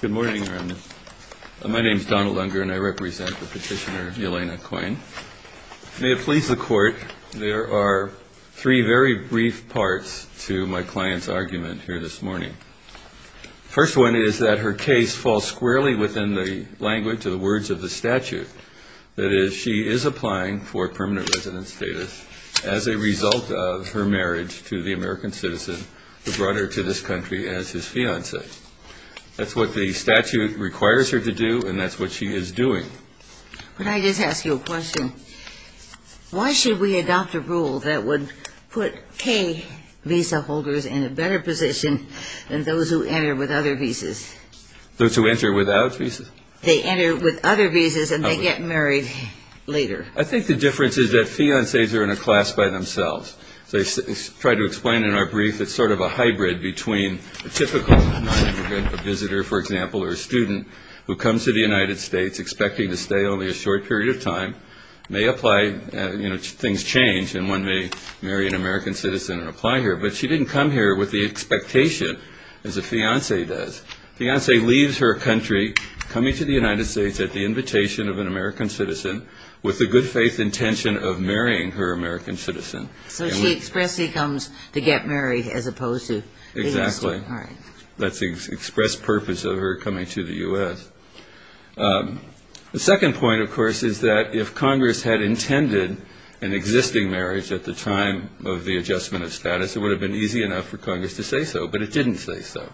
Good morning. My name is Donald Unger and I represent the petitioner Elena Coyne. May it please the Court, there are three very brief parts to my client's argument here this morning. The first one is that her case falls squarely within the language of the words of the statute. That is, she is applying for permanent resident status as a result of her marriage to the American citizen who brought her to this country as his fiancée. That's what the statute requires her to do and that's what she is doing. Could I just ask you a question? Why should we adopt a rule that would put K visa holders in a better position than those who enter with other visas? Those who enter without visas? They enter with other visas and they get married later. I think the difference is that fiancées are in a class by themselves. As I tried to explain in our brief, it's sort of a hybrid between a typical non-immigrant visitor, for example, or a student who comes to the United States expecting to stay only a short period of time, may apply, things change, and one may marry an American citizen and apply here. But she didn't come here with the expectation as a fiancée does. A fiancée leaves her country, coming to the United States at the invitation of an American citizen, with the good faith intention of marrying her American citizen. So she expressly comes to get married as opposed to being a student. Exactly. All right. That's the express purpose of her coming to the U.S. The second point, of course, is that if Congress had intended an existing marriage at the time of the adjustment of status, it would have been easy enough for Congress to say so, but it didn't say so.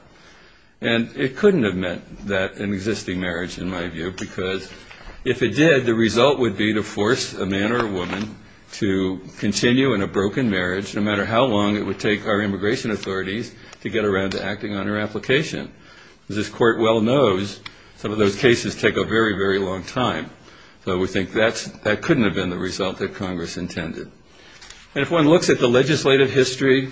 And it couldn't have meant that an existing marriage, in my view, because if it did, the result would be to force a man or a woman to continue in a broken marriage, no matter how long it would take our immigration authorities to get around to acting on her application. As this Court well knows, some of those cases take a very, very long time. So we think that couldn't have been the result that Congress intended. And if one looks at the legislative history,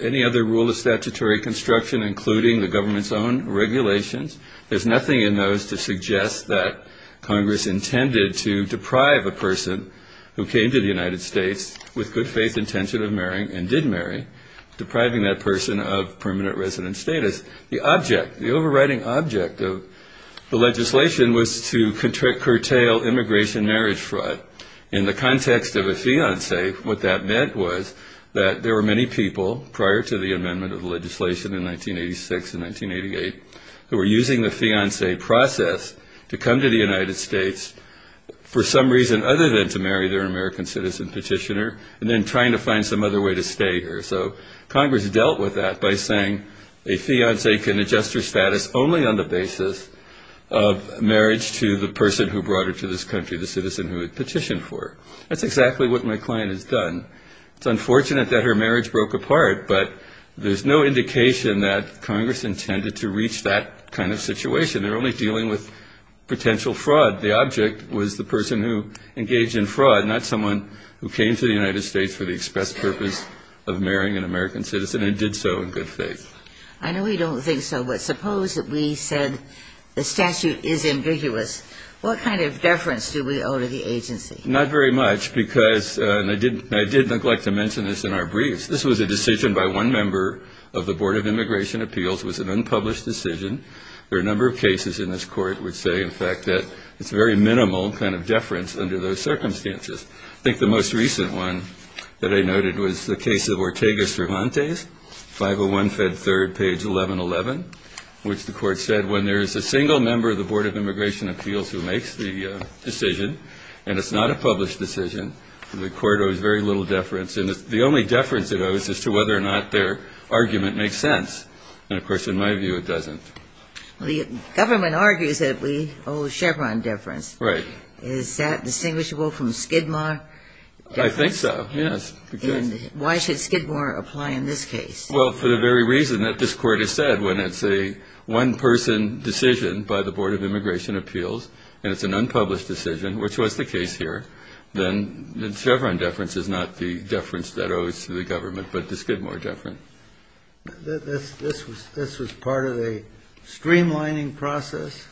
any other rule of statutory construction, including the government's own regulations, there's nothing in those to suggest that Congress intended to deprive a person who came to the United States with good faith intention of marrying and did marry, depriving that person of permanent resident status. The object, the overriding object of the legislation was to curtail immigration marriage fraud. In the context of a fiancé, what that meant was that there were many people, prior to the amendment of the legislation in 1986 and 1988, who were using the fiancé process to come to the United States for some reason other than to marry their American citizen petitioner and then trying to find some other way to stay here. So Congress dealt with that by saying a fiancé can adjust her status only on the basis of marriage to the person who brought her to this country, the citizen who had petitioned for her. That's exactly what my client has done. It's unfortunate that her marriage broke apart, but there's no indication that Congress intended to reach that kind of situation. They're only dealing with potential fraud. The object was the person who engaged in fraud, not someone who came to the United States for the express purpose of marrying an American citizen and did so in good faith. I know we don't think so, but suppose that we said the statute is ambiguous. What kind of deference do we owe to the agency? Not very much, because, and I did neglect to mention this in our briefs, this was a decision by one member of the Board of Immigration Appeals. It was an unpublished decision. There are a number of cases in this Court which say, in fact, that it's a very minimal kind of deference under those circumstances. I think the most recent one that I noted was the case of Ortega Cervantes, 501 Fed 3rd, page 1111, which the Court said, when there is a single member of the Board of Immigration Appeals who makes the decision, and it's not a published decision, the Court owes very little deference. And the only deference it owes is to whether or not their argument makes sense. And, of course, in my view, it doesn't. The government argues that we owe Chevron deference. Right. Is that distinguishable from Skidmore? I think so, yes. And why should Skidmore apply in this case? Well, for the very reason that this Court has said, when it's a one-person decision by the Board of Immigration Appeals, and it's an unpublished decision, which was the case here, then the Chevron deference is not the deference that owes to the government, but the Skidmore deference. This was part of a streamlining process?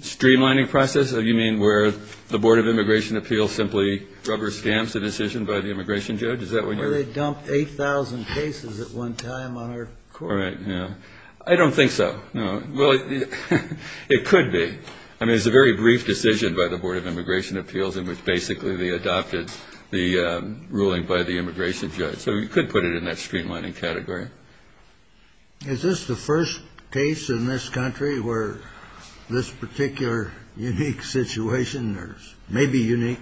Streamlining process, you mean where the Board of Immigration Appeals simply rubber-stamps a decision by the immigration judge? Is that what you mean? Where they dump 8,000 cases at one time on our Court. Right, yeah. I don't think so, no. Well, it could be. I mean, it's a very brief decision by the Board of Immigration Appeals in which basically they adopted the ruling by the immigration judge. So you could put it in that streamlining category. Is this the first case in this country where this particular unique situation may be unique?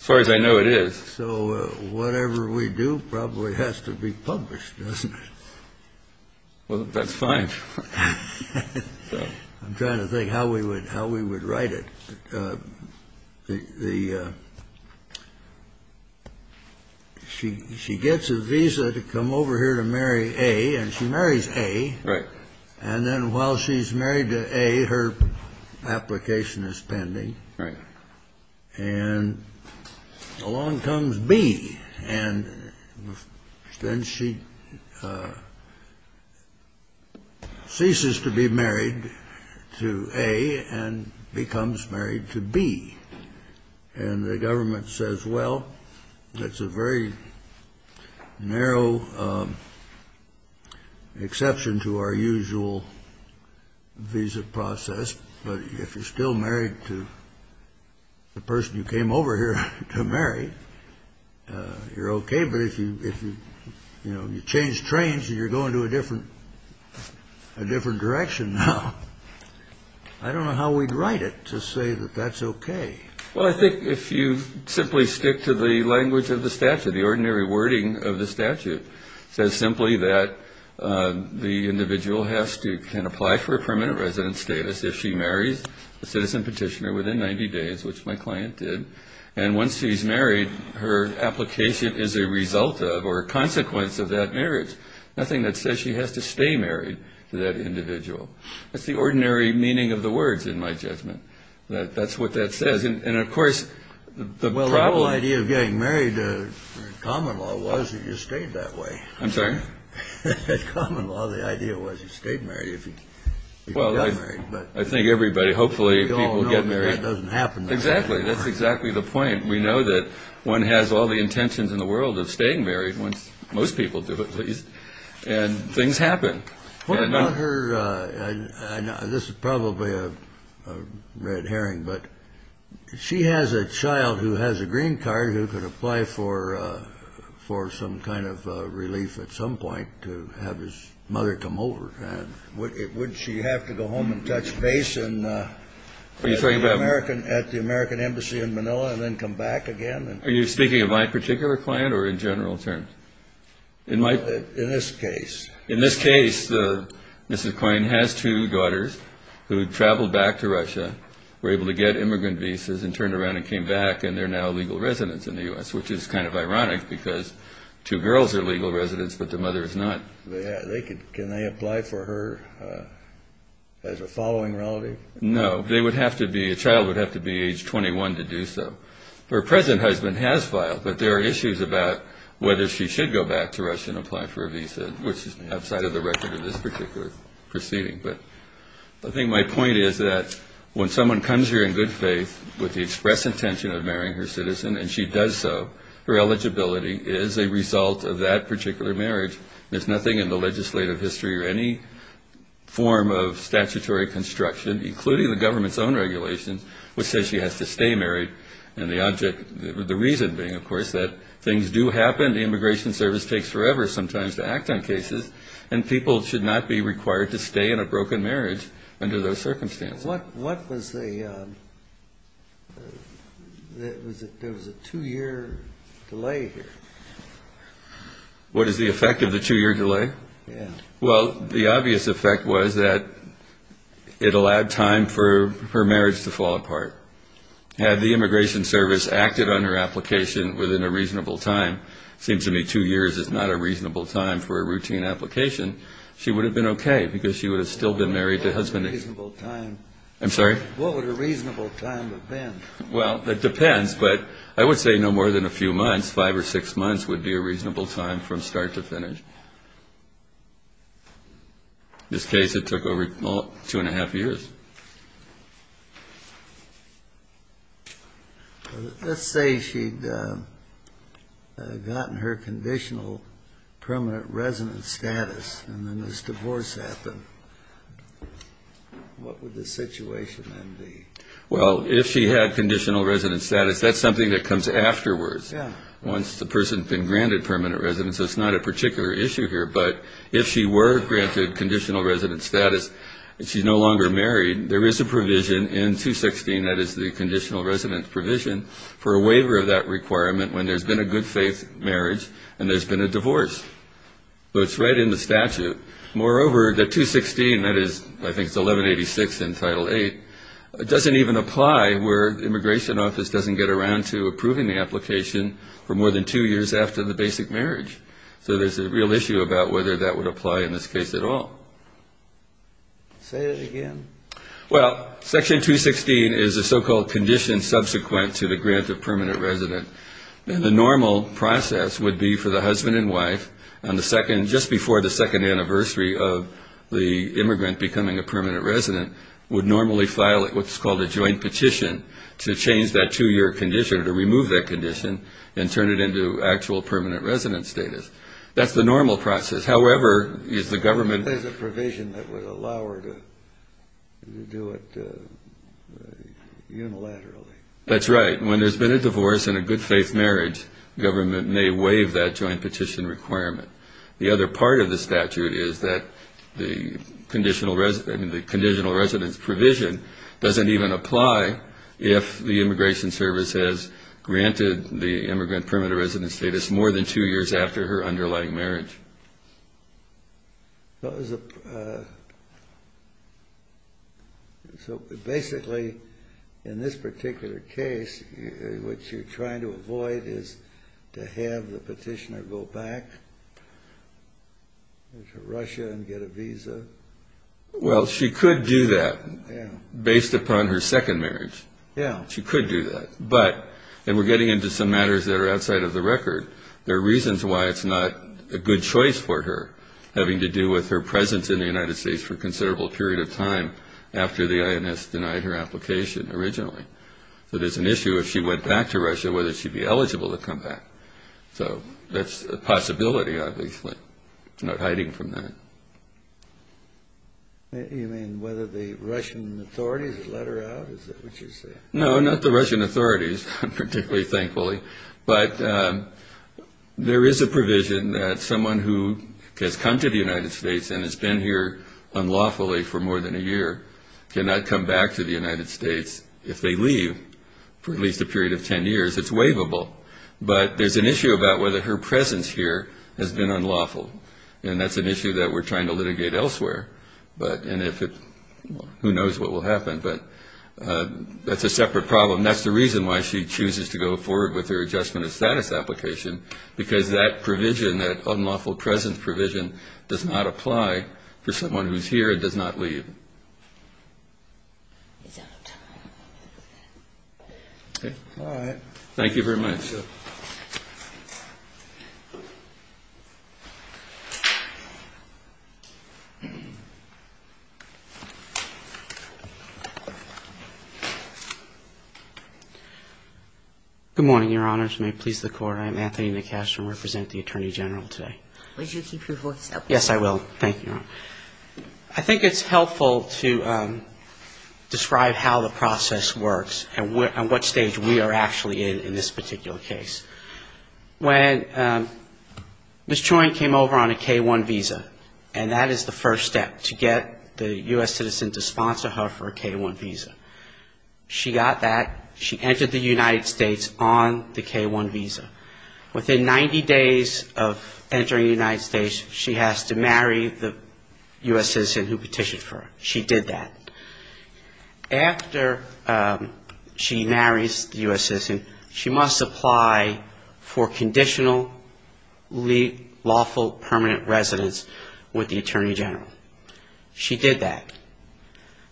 As far as I know, it is. So whatever we do probably has to be published, doesn't it? Well, that's fine. I'm trying to think how we would write it. She gets a visa to come over here to marry A, and she marries A. Right. And then while she's married to A, her application is pending. Right. And along comes B, and then she ceases to be married to A and becomes married to B. And the government says, well, that's a very narrow exception to our usual visa process, but if you're still married to the person you came over here to marry, you're okay. But if you change trains and you're going to a different direction now, I don't know how we'd write it to say that that's okay. Well, I think if you simply stick to the language of the statute, the ordinary wording of the statute, it says simply that the individual can apply for a permanent resident status if she marries a citizen petitioner within 90 days, which my client did. And once she's married, her application is a result of or a consequence of that marriage, nothing that says she has to stay married to that individual. That's the ordinary meaning of the words, in my judgment. That's what that says. Well, the whole idea of getting married in common law was that you stayed that way. I'm sorry? In common law, the idea was you stayed married if you got married. Well, I think everybody, hopefully, people get married. We all know that that doesn't happen. Exactly. That's exactly the point. We know that one has all the intentions in the world of staying married, most people do at least, and things happen. This is probably a red herring, but she has a child who has a green card who could apply for some kind of relief at some point to have his mother come over. Wouldn't she have to go home and touch base at the American Embassy in Manila and then come back again? Are you speaking of my particular client or in general terms? In this case. In this case, Mrs. Quain has two daughters who traveled back to Russia, were able to get immigrant visas and turned around and came back, and they're now legal residents in the U.S., which is kind of ironic because two girls are legal residents, but the mother is not. Can they apply for her as a following relative? No. They would have to be – a child would have to be age 21 to do so. Her present husband has filed, but there are issues about whether she should go back to Russia and apply for a visa, which is outside of the record of this particular proceeding. But I think my point is that when someone comes here in good faith with the express intention of marrying her citizen and she does so, her eligibility is a result of that particular marriage. There's nothing in the legislative history or any form of statutory construction, including the government's own regulations, which says she has to stay married. And the object – the reason being, of course, that things do happen. The Immigration Service takes forever sometimes to act on cases, and people should not be required to stay in a broken marriage under those circumstances. What was the – there was a two-year delay here. What is the effect of the two-year delay? Yeah. Well, the obvious effect was that it allowed time for her marriage to fall apart. Had the Immigration Service acted on her application within a reasonable time – it seems to me two years is not a reasonable time for a routine application – she would have been okay because she would have still been married to her husband. What would a reasonable time – What would a reasonable time have been? Well, that depends, but I would say no more than a few months. Five or six months would be a reasonable time from start to finish. In this case, it took over two and a half years. Let's say she'd gotten her conditional permanent resident status and then this divorce happened. What would the situation then be? Well, if she had conditional resident status, that's something that comes afterwards once the person's been granted permanent residence, so it's not a particular issue here. But if she were granted conditional resident status and she's no longer married, there is a provision in 216 – that is, the conditional resident provision – for a waiver of that requirement when there's been a good-faith marriage and there's been a divorce. So it's right in the statute. Moreover, the 216 – that is, I think it's 1186 in Title VIII – doesn't even apply where the immigration office doesn't get around to approving the application for more than two years after the basic marriage. So there's a real issue about whether that would apply in this case at all. Say it again. Well, Section 216 is the so-called condition subsequent to the grant of permanent resident. And the normal process would be for the husband and wife on the second – just before the second anniversary of the immigrant becoming a permanent resident – would normally file what's called a joint petition to change that two-year condition or to remove that condition and turn it into actual permanent resident status. That's the normal process. However, if the government – You do it unilaterally. That's right. When there's been a divorce and a good-faith marriage, government may waive that joint petition requirement. The other part of the statute is that the conditional resident – the conditional residence provision doesn't even apply if the immigration service has granted the immigrant permanent resident status more than two years after her underlying marriage. So basically, in this particular case, what you're trying to avoid is to have the petitioner go back to Russia and get a visa? Well, she could do that based upon her second marriage. Yeah. She could do that. But – and we're getting into some matters that are outside of the record – there are reasons why it's not a good choice for her, having to do with her presence in the United States for a considerable period of time after the INS denied her application originally. So there's an issue if she went back to Russia, whether she'd be eligible to come back. So that's a possibility, obviously. It's not hiding from that. You mean whether the Russian authorities would let her out? Is that what you're saying? No, not the Russian authorities, particularly, thankfully. But there is a provision that someone who has come to the United States and has been here unlawfully for more than a year cannot come back to the United States. If they leave for at least a period of 10 years, it's waivable. But there's an issue about whether her presence here has been unlawful, and that's an issue that we're trying to litigate elsewhere. But – and if it – who knows what will happen. But that's a separate problem. And that's the reason why she chooses to go forward with her Adjustment of Status application, because that provision, that unlawful presence provision, does not apply for someone who's here and does not leave. He's out. All right. Thank you very much. Thank you. Good morning, Your Honors. May it please the Court. I am Anthony McCash and represent the Attorney General today. Would you keep your voice up? Yes, I will. Thank you, Your Honor. I think it's helpful to describe how the process works and what stage we are actually in in this particular case. When Ms. Choi came over on a K-1 visa, and that is the first step, to get the U.S. citizen to sponsor her for a K-1 visa. She got that. She entered the United States on the K-1 visa. Within 90 days of entering the United States, she has to marry the U.S. citizen who petitioned for her. She did that. After she marries the U.S. citizen, she must apply for conditional lawful permanent residence with the Attorney General. She did that.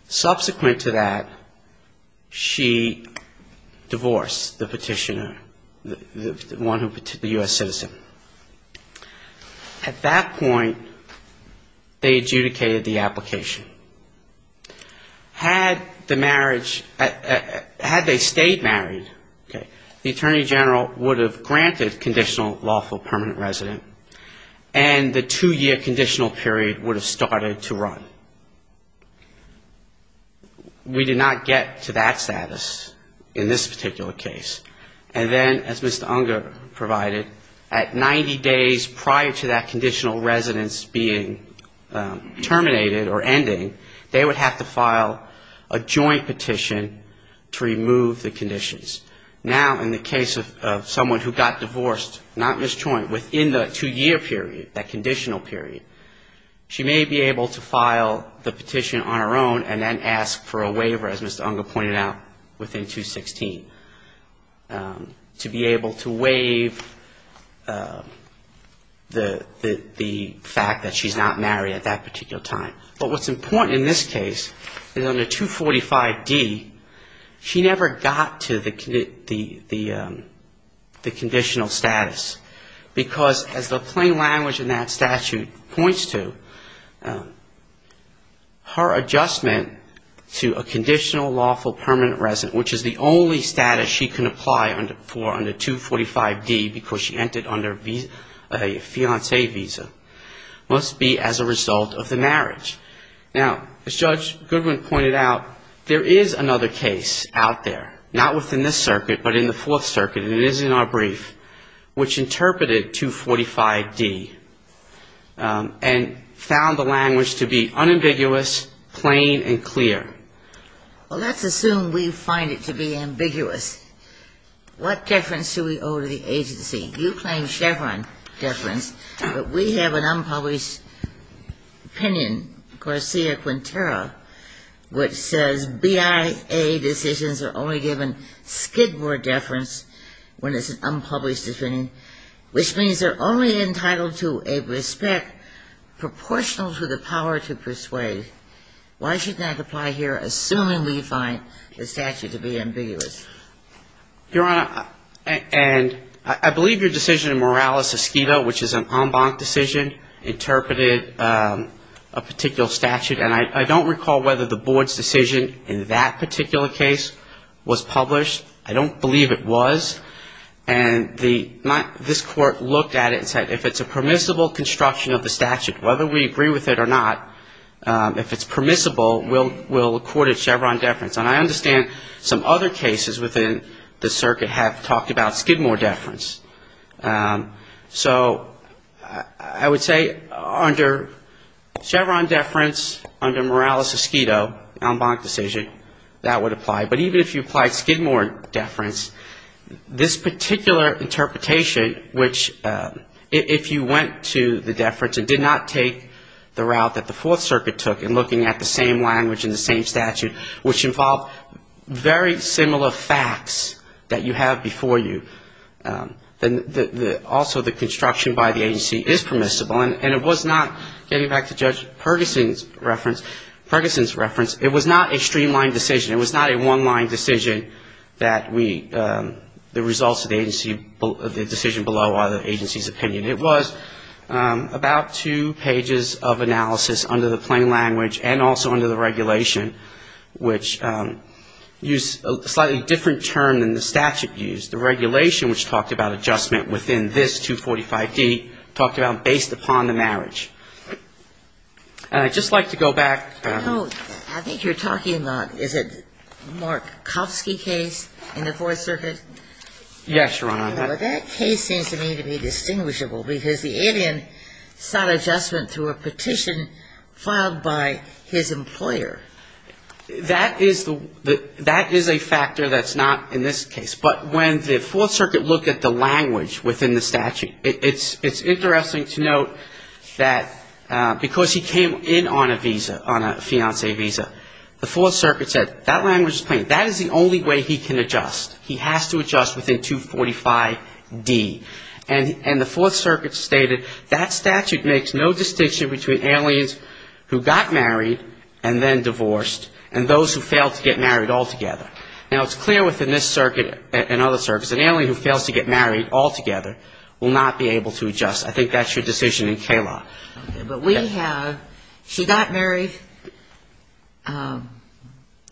Subsequent to that, she divorced the petitioner, the one who petitioned, the U.S. citizen. At that point, they adjudicated the application. Had the marriage, had they stayed married, the Attorney General would have granted conditional lawful permanent residence, and the two-year conditional period would have started to run. We did not get to that status in this particular case. And then, as Mr. Unger provided, at 90 days prior to that conditional residence being terminated or ending, they would have to file a joint petition to remove the conditions. Now, in the case of someone who got divorced, not Ms. Choi, within the two-year period, that conditional period, she may be able to file the petition on her own and then ask for a waiver, as Mr. Unger pointed out, within 216, to be able to waive the fact that she's not married at that particular time. But what's important in this case is under 245D, she never got to the conditional status, because as the plain language in that statute points to, her adjustment to a conditional lawful permanent residence, which is the only status she can apply for under 245D, because she entered under a fiancé visa, must be as a result of the marriage. Now, as Judge Goodwin pointed out, there is another case out there, not within this circuit, but in the Fourth Circuit, and it is in our brief, which interpreted 245D and found the language to be unambiguous, plain and clear. Well, let's assume we find it to be ambiguous. What deference do we owe to the agency? You claim Chevron deference, but we have an unpublished opinion, Garcia-Quintero, which says BIA decisions are only given Skidmore deference, when it's an unpublished opinion, which means they're only entitled to a respect proportional to the power to persuade. Why shouldn't that apply here, assuming we find the statute to be ambiguous? Your Honor, and I believe your decision in Morales-Escueta, which is an en banc decision, interpreted a particular statute, and I don't recall whether the board's decision in that particular case was published. I don't believe it was. And this Court looked at it and said, if it's a permissible construction of the statute, whether we agree with it or not, if it's permissible, we'll accord it Chevron deference. And I understand some other cases within the circuit have talked about Skidmore deference. So I would say under Chevron deference, under Morales-Escueta, an en banc decision, that would apply. But even if you applied Skidmore deference, this particular interpretation, which if you went to the deference and did not take the route that the Fourth Circuit took in looking at the same language and the same statute, which involved very similar facts that you have before you, that would apply. Also, the construction by the agency is permissible. And it was not, getting back to Judge Perkinson's reference, it was not a streamlined decision. It was not a one-line decision that we, the results of the agency, the decision below are the agency's opinion. It was about two pages of analysis under the plain language and also under the regulation, which used a slightly different term than the regulation, which is the alien sought adjustment within this 245D, based upon the marriage. And I'd just like to go back. I think you're talking about, is it Markovsky case in the Fourth Circuit? Yes, Your Honor. That case seems to me to be distinguishable, because the alien sought adjustment through a petition filed by his employer. That is the, that is a factor that's not in this case. But when the Fourth Circuit looked at the language within the statute, it's interesting to note that because he came in on a visa, on a fiancé visa, the Fourth Circuit said, that language is plain. That is the only way he can adjust. He has to adjust within 245D. And the Fourth Circuit stated, that statute makes no distinction between aliens who got married and then divorced, and those who failed to get married altogether. Now, it's clear within this circuit and other circuits, an alien who fails to get married altogether will not be able to adjust. I think that's your decision in K-law. Okay. But we have, she got married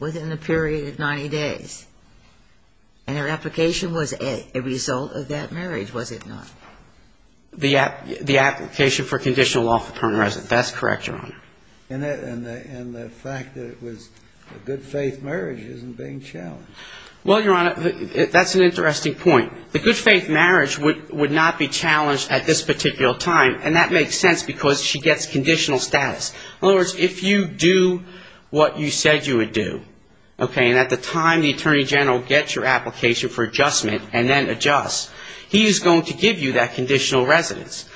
within a period of 90 days. And her application was a result of that marriage, was it not? The application for conditional lawful permanent residence. That's correct, Your Honor. And the fact that it was a good-faith marriage isn't being challenged. Well, Your Honor, that's an interesting point. The good-faith marriage would not be challenged at this particular time, and that makes sense, because she gets conditional status. In other words, if you do what you said you would do, okay, and at the time the Attorney General gives you that application for adjustment, and then adjusts, he is going to give you that conditional residence.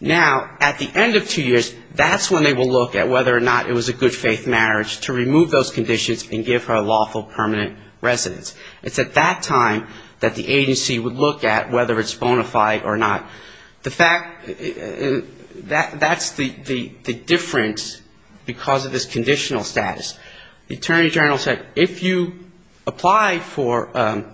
Now, at the end of two years, that's when they will look at whether or not it was a good-faith marriage to remove those conditions and give her lawful permanent residence. It's at that time that the agency would look at whether it's bona fide or not. That's the difference because of this conditional status. The Attorney General said if you apply for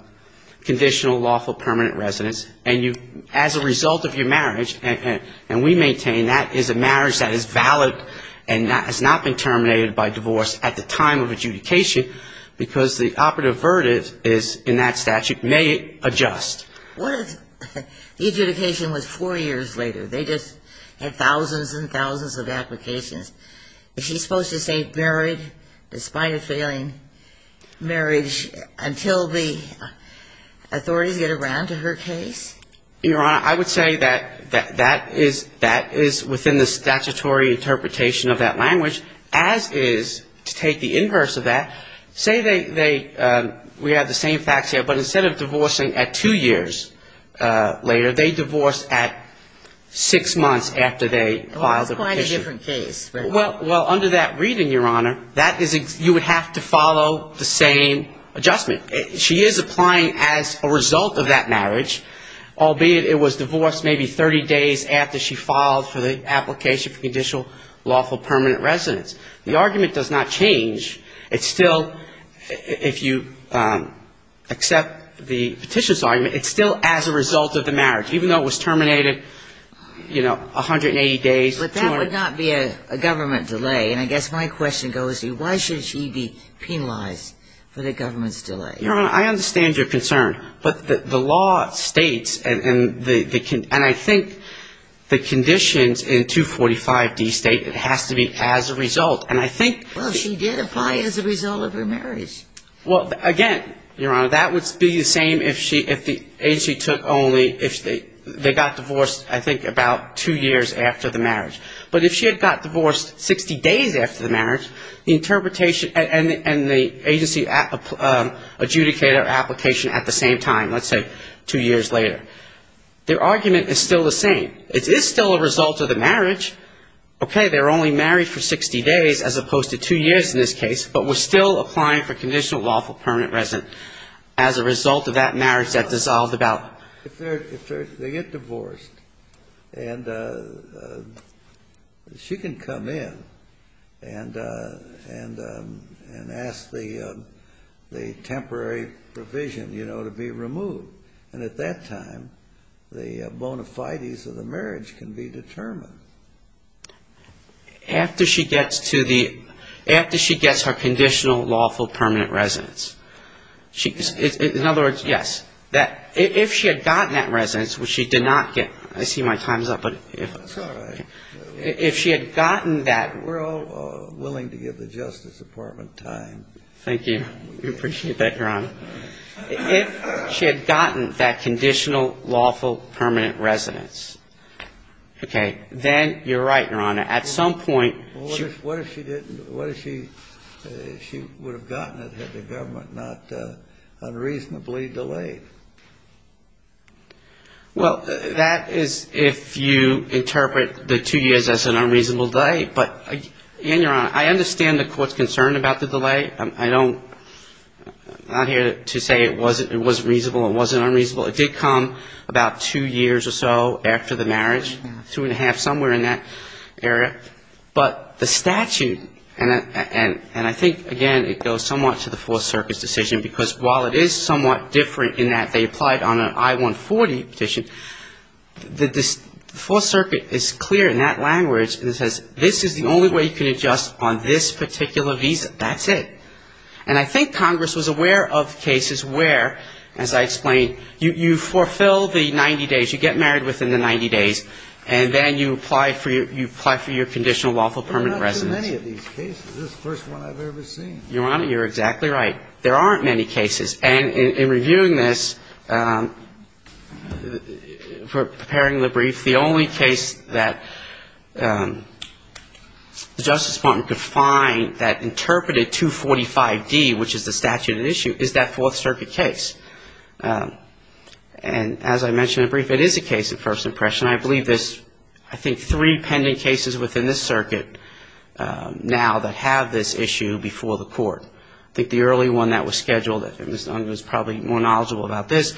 conditional lawful permanent residence, and you, as a result of your marriage, and we maintain that is a marriage that is valid and has not been terminated by divorce at the time of adjudication, because the operative verdict is in that statute, may adjust. What if the adjudication was four years later? They just had thousands and thousands of applications. Is she supposed to stay married despite a failing marriage until the authorities get around to her case? Your Honor, I would say that that is within the statutory interpretation of that language, as is, to take the inverse of that, say they, we have the same facts here, but instead of divorcing at two years later, they divorce at six months after they filed the petition. Well, under that reading, Your Honor, that is, you would have to follow the same adjustment. She is applying as a result of that marriage, albeit it was divorced maybe 30 days after she filed for the application for conditional lawful permanent residence. The argument does not change. It's still, if you accept the petition's argument, it's still as a result of the marriage, even though it was terminated, you know, 180 days. But that would not be a government delay, and I guess my question goes to why should she be penalized for the government's delay? Your Honor, I understand your concern, but the law states, and I think the conditions in 245D state it has to be as a result, and I think Well, she did apply as a result of her marriage. Well, again, Your Honor, that would be the same if the agency took only, if they got divorced, I think, about two years after the marriage. But if she had got divorced 60 days after the marriage, the interpretation and the agency adjudicator application at the same time, let's say two years later, their argument is still the same. It is still a result of the marriage. Okay, they were only married for 60 days as opposed to two years in this case, but we're still applying for conditional lawful permanent residence as a result of that marriage that dissolved about If they get divorced and she can come in and ask the temporary provision, you know, to be removed, and at that time, the bona fides of the marriage can be determined. After she gets to the, after she gets her conditional lawful permanent residence. In other words, yes, if she had gotten that residence, which she did not get, I see my time is up, but if she had gotten that We're all willing to give the Justice Department time. Thank you. We appreciate that, Your Honor. If she had gotten that conditional lawful permanent residence, okay, that And you're right, Your Honor, at some point What if she would have gotten it had the government not unreasonably delayed? Well, that is if you interpret the two years as an unreasonable delay, but, and Your Honor, I understand the court's concern about the delay. I don't, I'm not here to say it wasn't reasonable, it wasn't unreasonable. It did come about two years or so after the marriage, two and a half, somewhere in that area. But the statute, and I think, again, it goes somewhat to the Fourth Circuit's decision, because while it is somewhat different in that they applied on an I-140 petition, the Fourth Circuit is clear in that language and says this is the only way you can adjust on this particular visa, that's it. And I think Congress was aware of cases where, as I explained, you fulfill the 90 days, you get married within the 90 days, and then you apply for your conditional lawful permanent residence. There are not too many of these cases. This is the first one I've ever seen. Your Honor, you're exactly right. There aren't many cases. And in reviewing this, preparing the brief, the only case that the Justice Department could find that interpreted 245D, which is the statute at issue, is that Fourth Circuit case. And as I mentioned in the brief, it is a case of first impression. I believe there's, I think, three pending cases within this circuit now that have this issue before the Court. I think the early one that was scheduled, if it was done, it was probably more knowledgeable about this.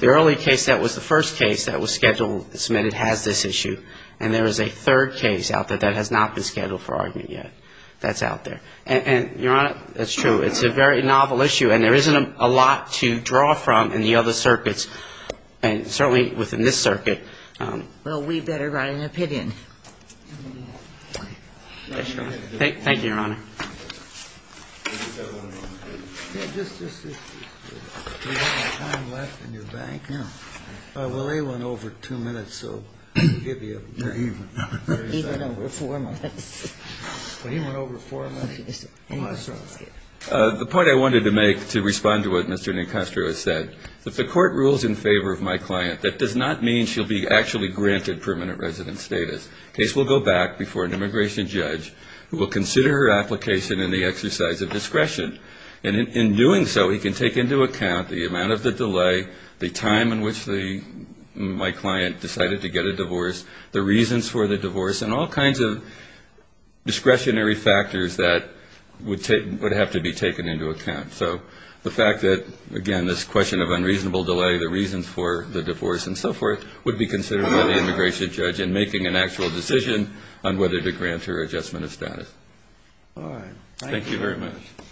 The early case that was the first case that was scheduled, submitted, has this issue. And there is a third case out there that has not been scheduled for argument yet that's out there. And, Your Honor, that's true. It's a very novel issue, and there isn't a lot to draw from in the other circuits, and certainly within this circuit. Thank you, Your Honor. The point I wanted to make, to respond to what Mr. Nicastro has said, if the Court rules in favor of my client, that does not mean she'll be actually granted permanent resident status. The case will go back before an immigration judge who will consider her application in the exercise of discretion. And in doing so, he can take into account the amount of the delay, the time in which my client decided to get a divorce, the reasons for the divorce, and all kinds of discretionary factors that would have to be taken into account. So the fact that, again, this question of unreasonable delay, the reasons for the divorce, and so forth, would be considered by the immigration judge in making an actual decision on whether to grant her adjustment of status.